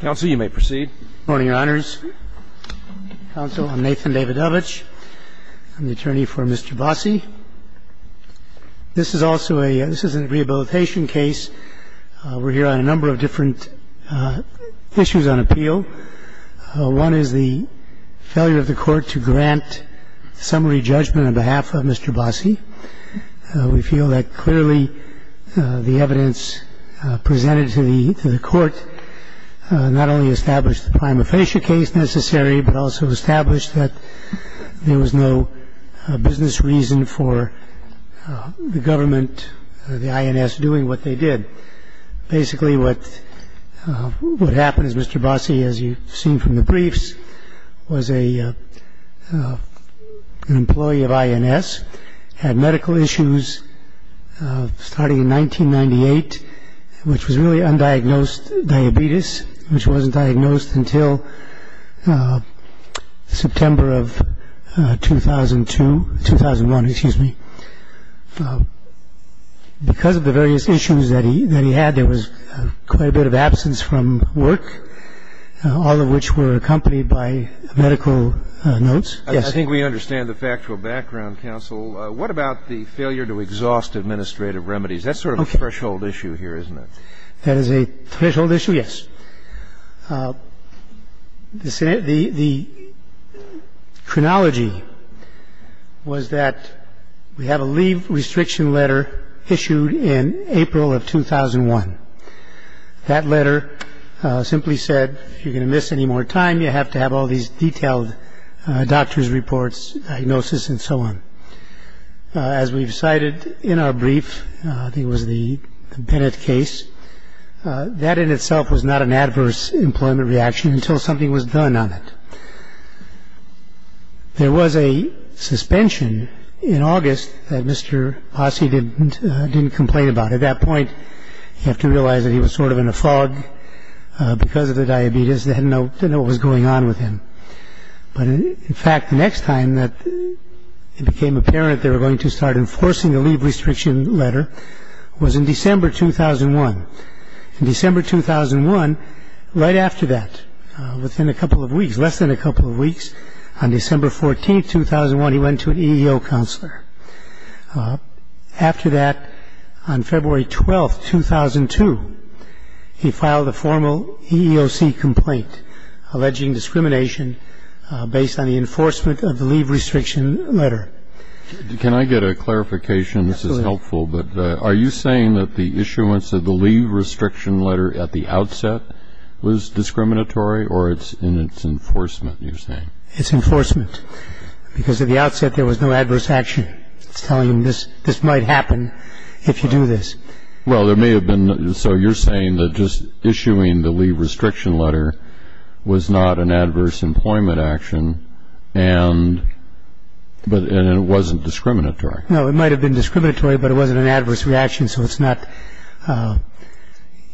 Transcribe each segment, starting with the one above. Good morning, Your Honors. Counsel, I'm Nathan Davidovich. I'm the attorney for Mr. Bosse. This is also a this is a rehabilitation case. We're here on a number of different issues on appeal. One is the failure of the court to grant summary judgment on behalf of Mr. Bosse. We feel that clearly the evidence presented to the court not only established the prima facie case necessary, but also established that there was no business reason for the government, the INS, doing what they did. Basically, what happened is Mr. Bosse, as you've seen from the briefs, was an employee of INS, had medical issues starting in 1998, which was really undiagnosed diabetes, which wasn't diagnosed until September of 2002, 2001, excuse me. Because of the various issues that he had, there was quite a bit of absence from work, all of which were accompanied by medical notes. Yes. I think we understand the factual background, counsel. What about the failure to exhaust administrative remedies? That's sort of a threshold issue here, isn't it? That is a threshold issue, yes. The chronology was that we have a leave restriction letter issued in April of 2001. That letter simply said, if you're going to miss any more time, you have to have all these detailed doctor's reports, diagnosis, and so on. As we've cited in our brief, I think it was the Bennett case, that in itself was not an adverse employment reaction until something was done on it. There was a suspension in August that Mr. Bosse didn't complain about. At that point, you have to realize that he was sort of in a fog because of the diabetes. They didn't know what was going on with him. But, in fact, the next time that it became apparent they were going to start enforcing the leave restriction letter was in December 2001. In December 2001, right after that, within a couple of weeks, less than a couple of weeks, on December 14, 2001, he went to an EEO counselor. After that, on February 12, 2002, he filed a formal EEOC complaint alleging discrimination based on the enforcement of the leave restriction letter. Can I get a clarification? This is helpful, but are you saying that the issuance of the leave restriction letter at the outset was discriminatory, or it's in its enforcement, you're saying? It's enforcement because at the outset there was no adverse action. It's telling him this might happen if you do this. Well, there may have been. So you're saying that just issuing the leave restriction letter was not an adverse employment action, and it wasn't discriminatory? No. It might have been discriminatory, but it wasn't an adverse reaction, so it's not –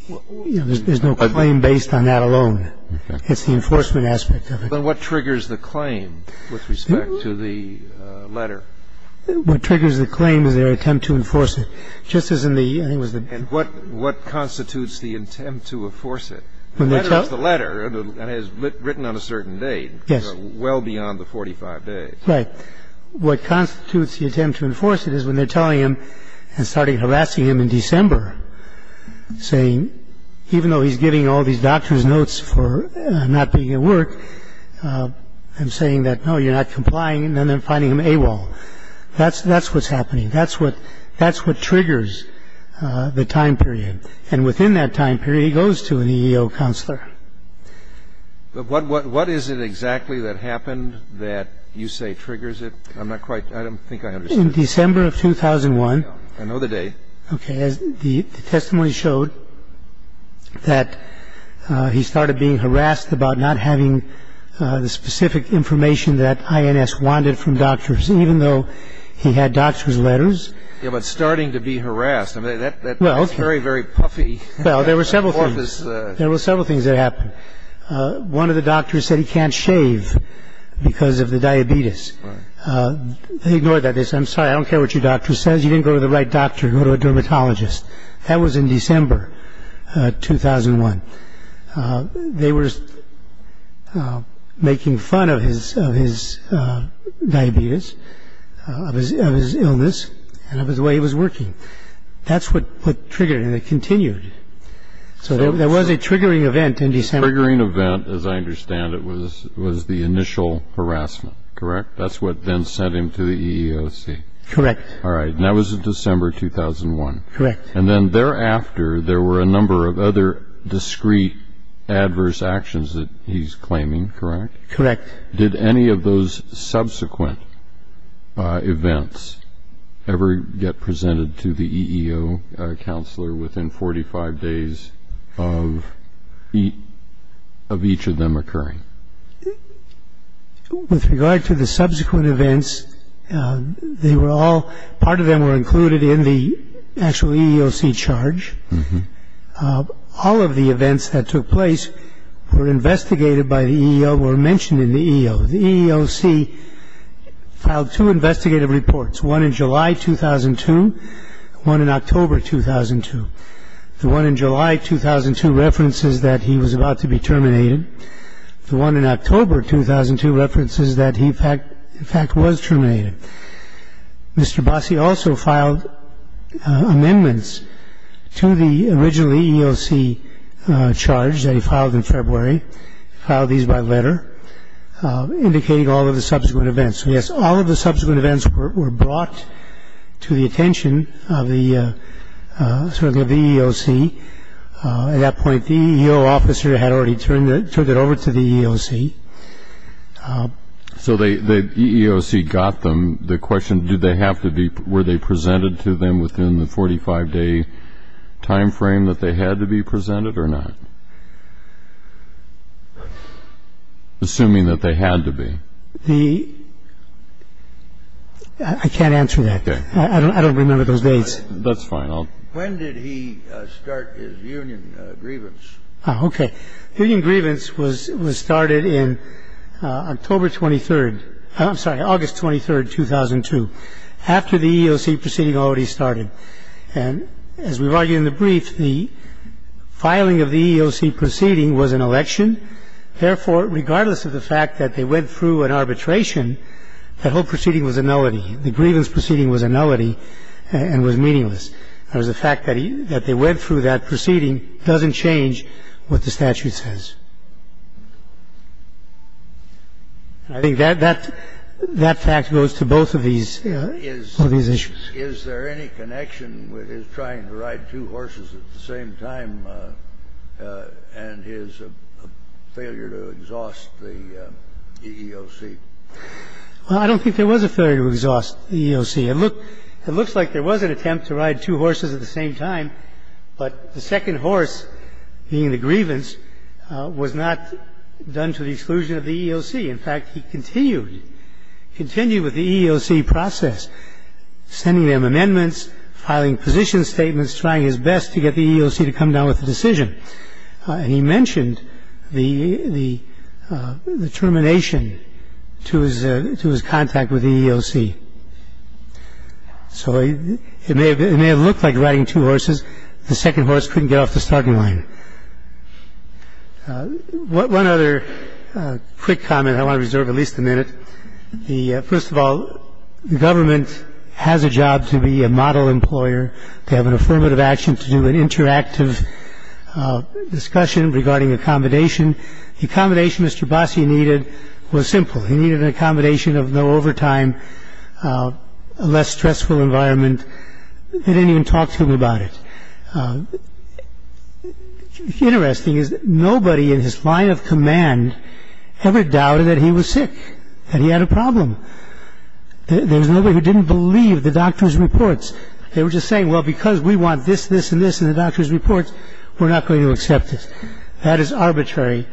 there's no claim based on that alone. It's the enforcement aspect of it. But what triggers the claim with respect to the letter? What triggers the claim is their attempt to enforce it. Just as in the – And what constitutes the intent to enforce it? The letter is the letter that is written on a certain date. Yes. Well beyond the 45 days. Right. What constitutes the attempt to enforce it is when they're telling him and starting harassing him in December, saying even though he's giving all these doctor's notes for not being at work, I'm saying that, no, you're not complying, and then they're finding him AWOL. That's what's happening. That's what triggers the time period. And within that time period, he goes to an EEO counselor. But what is it exactly that happened that you say triggers it? I'm not quite – I don't think I understand. In December of 2001. I know the date. Okay. The testimony showed that he started being harassed about not having the specific information that INS wanted from doctors, even though he had doctor's letters. Yeah, but starting to be harassed. That's very, very puffy. Well, there were several things. There were several things that happened. One of the doctors said he can't shave because of the diabetes. Right. They ignored that. They said, I'm sorry, I don't care what your doctor says. You didn't go to the right doctor. Go to a dermatologist. That was in December 2001. They were making fun of his diabetes, of his illness, and of the way he was working. That's what triggered it, and it continued. So there was a triggering event in December. The triggering event, as I understand it, was the initial harassment, correct? That's what then sent him to the EEOC. Correct. All right. And that was in December 2001. Correct. And then thereafter, there were a number of other discreet, adverse actions that he's claiming, correct? Correct. Did any of those subsequent events ever get presented to the EEO counselor within 45 days of each of them occurring? With regard to the subsequent events, they were all, part of them were included in the actual EEOC charge. All of the events that took place were investigated by the EEO, were mentioned in the EEO. The EEOC filed two investigative reports, one in July 2002 and one in October 2002. The one in July 2002 references that he was about to be terminated. The one in October 2002 references that he, in fact, was terminated. Mr. Bossi also filed amendments to the original EEOC charge that he filed in February. He filed these by letter, indicating all of the subsequent events. So, yes, all of the subsequent events were brought to the attention of the EEOC. At that point, the EEO officer had already turned it over to the EEOC. So the EEOC got the question, were they presented to them within the 45-day time frame that they had to be presented or not? Assuming that they had to be. I can't answer that. Okay. I don't remember those dates. That's fine. When did he start his union grievance? Okay. Union grievance was started in October 23rd. I'm sorry, August 23rd, 2002, after the EEOC proceeding already started. And as we've argued in the brief, the filing of the EEOC proceeding was an election. Therefore, regardless of the fact that they went through an arbitration, that whole proceeding was a nullity. The grievance proceeding was a nullity and was meaningless. And the fact that they went through that proceeding doesn't change what the statute says. I think that fact goes to both of these issues. Is there any connection with his trying to ride two horses at the same time and his failure to exhaust the EEOC? Well, I don't think there was a failure to exhaust the EEOC. It looks like there was an attempt to ride two horses at the same time, but the second horse, being the grievance, was not done to the exclusion of the EEOC. In fact, he continued with the EEOC process, sending them amendments, filing position statements, trying his best to get the EEOC to come down with a decision. And he mentioned the termination to his contact with the EEOC. So it may have looked like riding two horses. The second horse couldn't get off the starting line. One other quick comment I want to reserve at least a minute. First of all, the government has a job to be a model employer. They have an affirmative action to do an interactive discussion regarding accommodation. The accommodation Mr. Bassi needed was simple. He needed an accommodation of no overtime, a less stressful environment. They didn't even talk to him about it. Interesting is nobody in his line of command ever doubted that he was sick, that he had a problem. There was nobody who didn't believe the doctor's reports. They were just saying, well, because we want this, this, and this in the doctor's reports, we're not going to accept this. That is arbitrary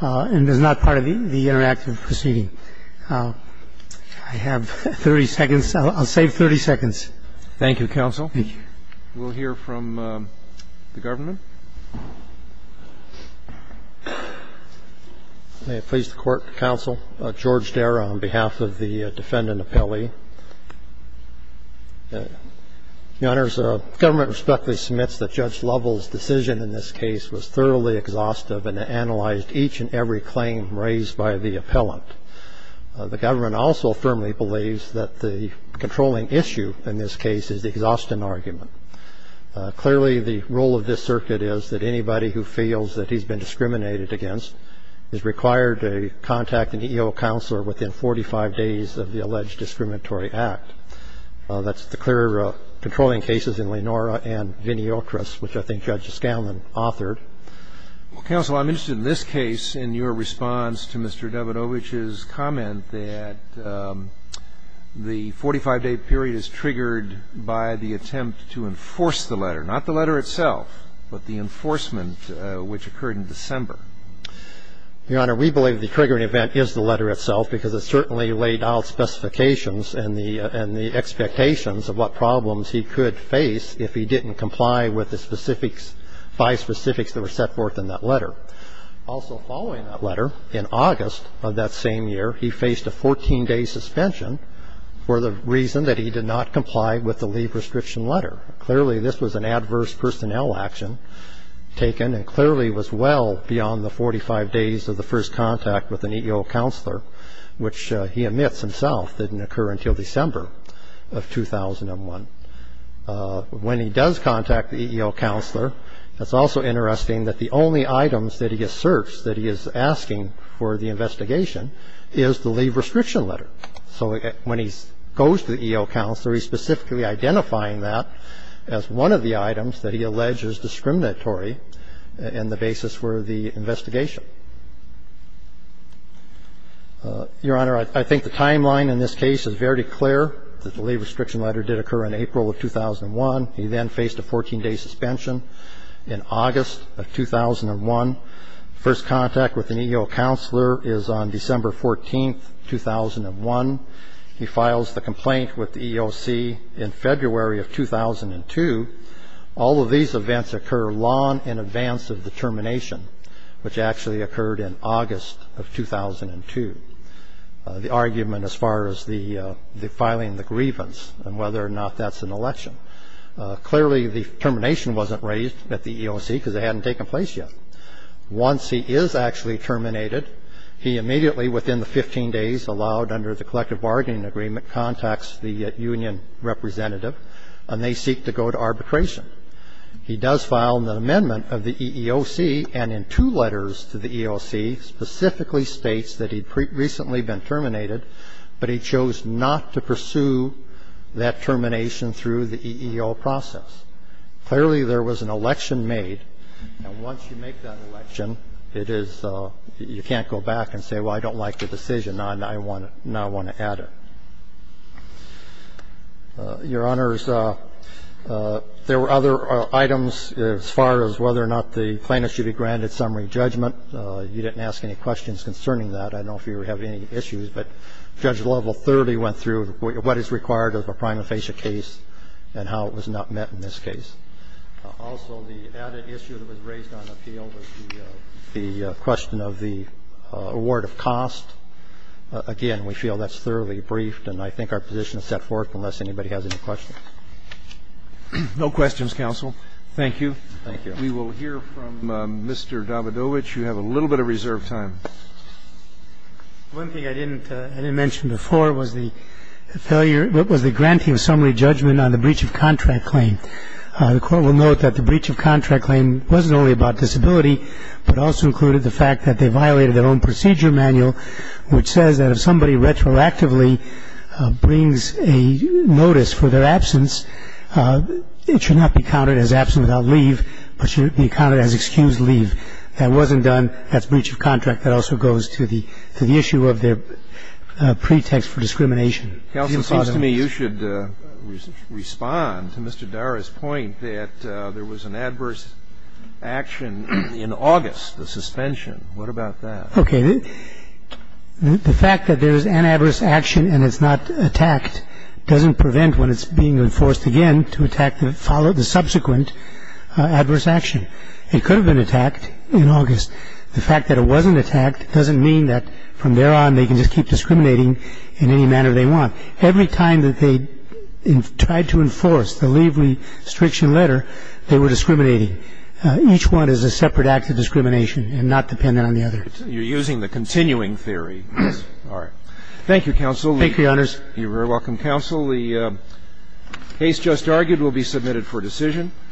and is not part of the interactive proceeding. I have 30 seconds. I'll save 30 seconds. Thank you, counsel. Thank you. We'll hear from the government. May it please the Court, counsel. George Dara on behalf of the defendant appellee. Your Honors, the government respectfully submits that Judge Lovell's decision in this case was thoroughly exhaustive and analyzed each and every claim raised by the appellant. The government also firmly believes that the controlling issue in this case is the exhaustion argument. Clearly, the rule of this circuit is that anybody who feels that he's been discriminated against is required to contact an EO counselor within 45 days of the alleged discriminatory act. That's the clear controlling cases in Lenora and Vinny Otrus, which I think Judge Scanlon authored. Well, counsel, I'm interested in this case in your response to Mr. Davidovich's comment that the 45-day period is triggered by the attempt to enforce the letter, not the letter itself, but the enforcement which occurred in December. Your Honor, we believe the triggering event is the letter itself, because it certainly laid out specifications and the expectations of what problems he could face if he didn't comply with the specifics, by specifics that were set forth in that letter. Also following that letter, in August of that same year, he faced a 14-day suspension for the reason that he did not comply with the leave restriction letter. Clearly, this was an adverse personnel action taken, and clearly was well beyond the 45 days of the first contact with an EO counselor, which he admits himself didn't occur until December of 2001. When he does contact the EO counselor, it's also interesting that the only items that he asserts that he is asking for the investigation is the leave restriction letter. So when he goes to the EO counselor, he's specifically identifying that as one of the items that he alleges discriminatory in the basis for the investigation. Your Honor, I think the timeline in this case is very clear, that the leave restriction letter did occur in April of 2001. He then faced a 14-day suspension in August of 2001. First contact with an EO counselor is on December 14, 2001. He files the complaint with the EOC in February of 2002. All of these events occur long in advance of the termination, which actually occurred in August of 2002. The argument as far as the filing the grievance and whether or not that's an election. Clearly, the termination wasn't raised at the EOC because it hadn't taken place yet. Once he is actually terminated, he immediately, within the 15 days allowed under the collective bargaining agreement, contacts the union representative, and they seek to go to arbitration. He does file an amendment of the EEOC, and in two letters to the EEOC, specifically states that he'd recently been terminated, but he chose not to pursue that termination through the EEO process. Clearly, there was an election made. And once you make that election, it is you can't go back and say, well, I don't like the decision. Now I want to add it. Your Honors, there were other items as far as whether or not the plaintiff should be granted summary judgment. You didn't ask any questions concerning that. I don't know if you have any issues, but Judge Level 30 went through what is required of a prima facie case and how it was not met in this case. Also, the added issue that was raised on appeal was the question of the award of cost. Again, we feel that's thoroughly briefed, and I think our position is set forth unless anybody has any questions. Roberts. No questions, counsel. Thank you. Thank you. We will hear from Mr. Davidovich. You have a little bit of reserved time. One thing I didn't mention before was the granting of summary judgment on the breach of contract claim. The Court will note that the breach of contract claim wasn't only about disability, but also included the fact that they violated their own procedure manual, which says that if somebody retroactively brings a notice for their absence, it should not be counted as absent without leave, but should be counted as excused leave. That wasn't done. That's breach of contract. That also goes to the issue of their pretext for discrimination. Counsel, it seems to me you should respond to Mr. Dara's point that there was an adverse action in August, the suspension. What about that? Okay. The fact that there is an adverse action and it's not attacked doesn't prevent when it's being enforced again to attack the subsequent adverse action. It could have been attacked in August. The fact that it wasn't attacked doesn't mean that from there on they can just keep discriminating in any manner they want. Every time that they tried to enforce the leave restriction letter, they were discriminating. Each one is a separate act of discrimination and not dependent on the other. You're using the continuing theory. All right. Thank you, Counsel. Thank you, Your Honors. You're very welcome, Counsel. The case just argued will be submitted for decision.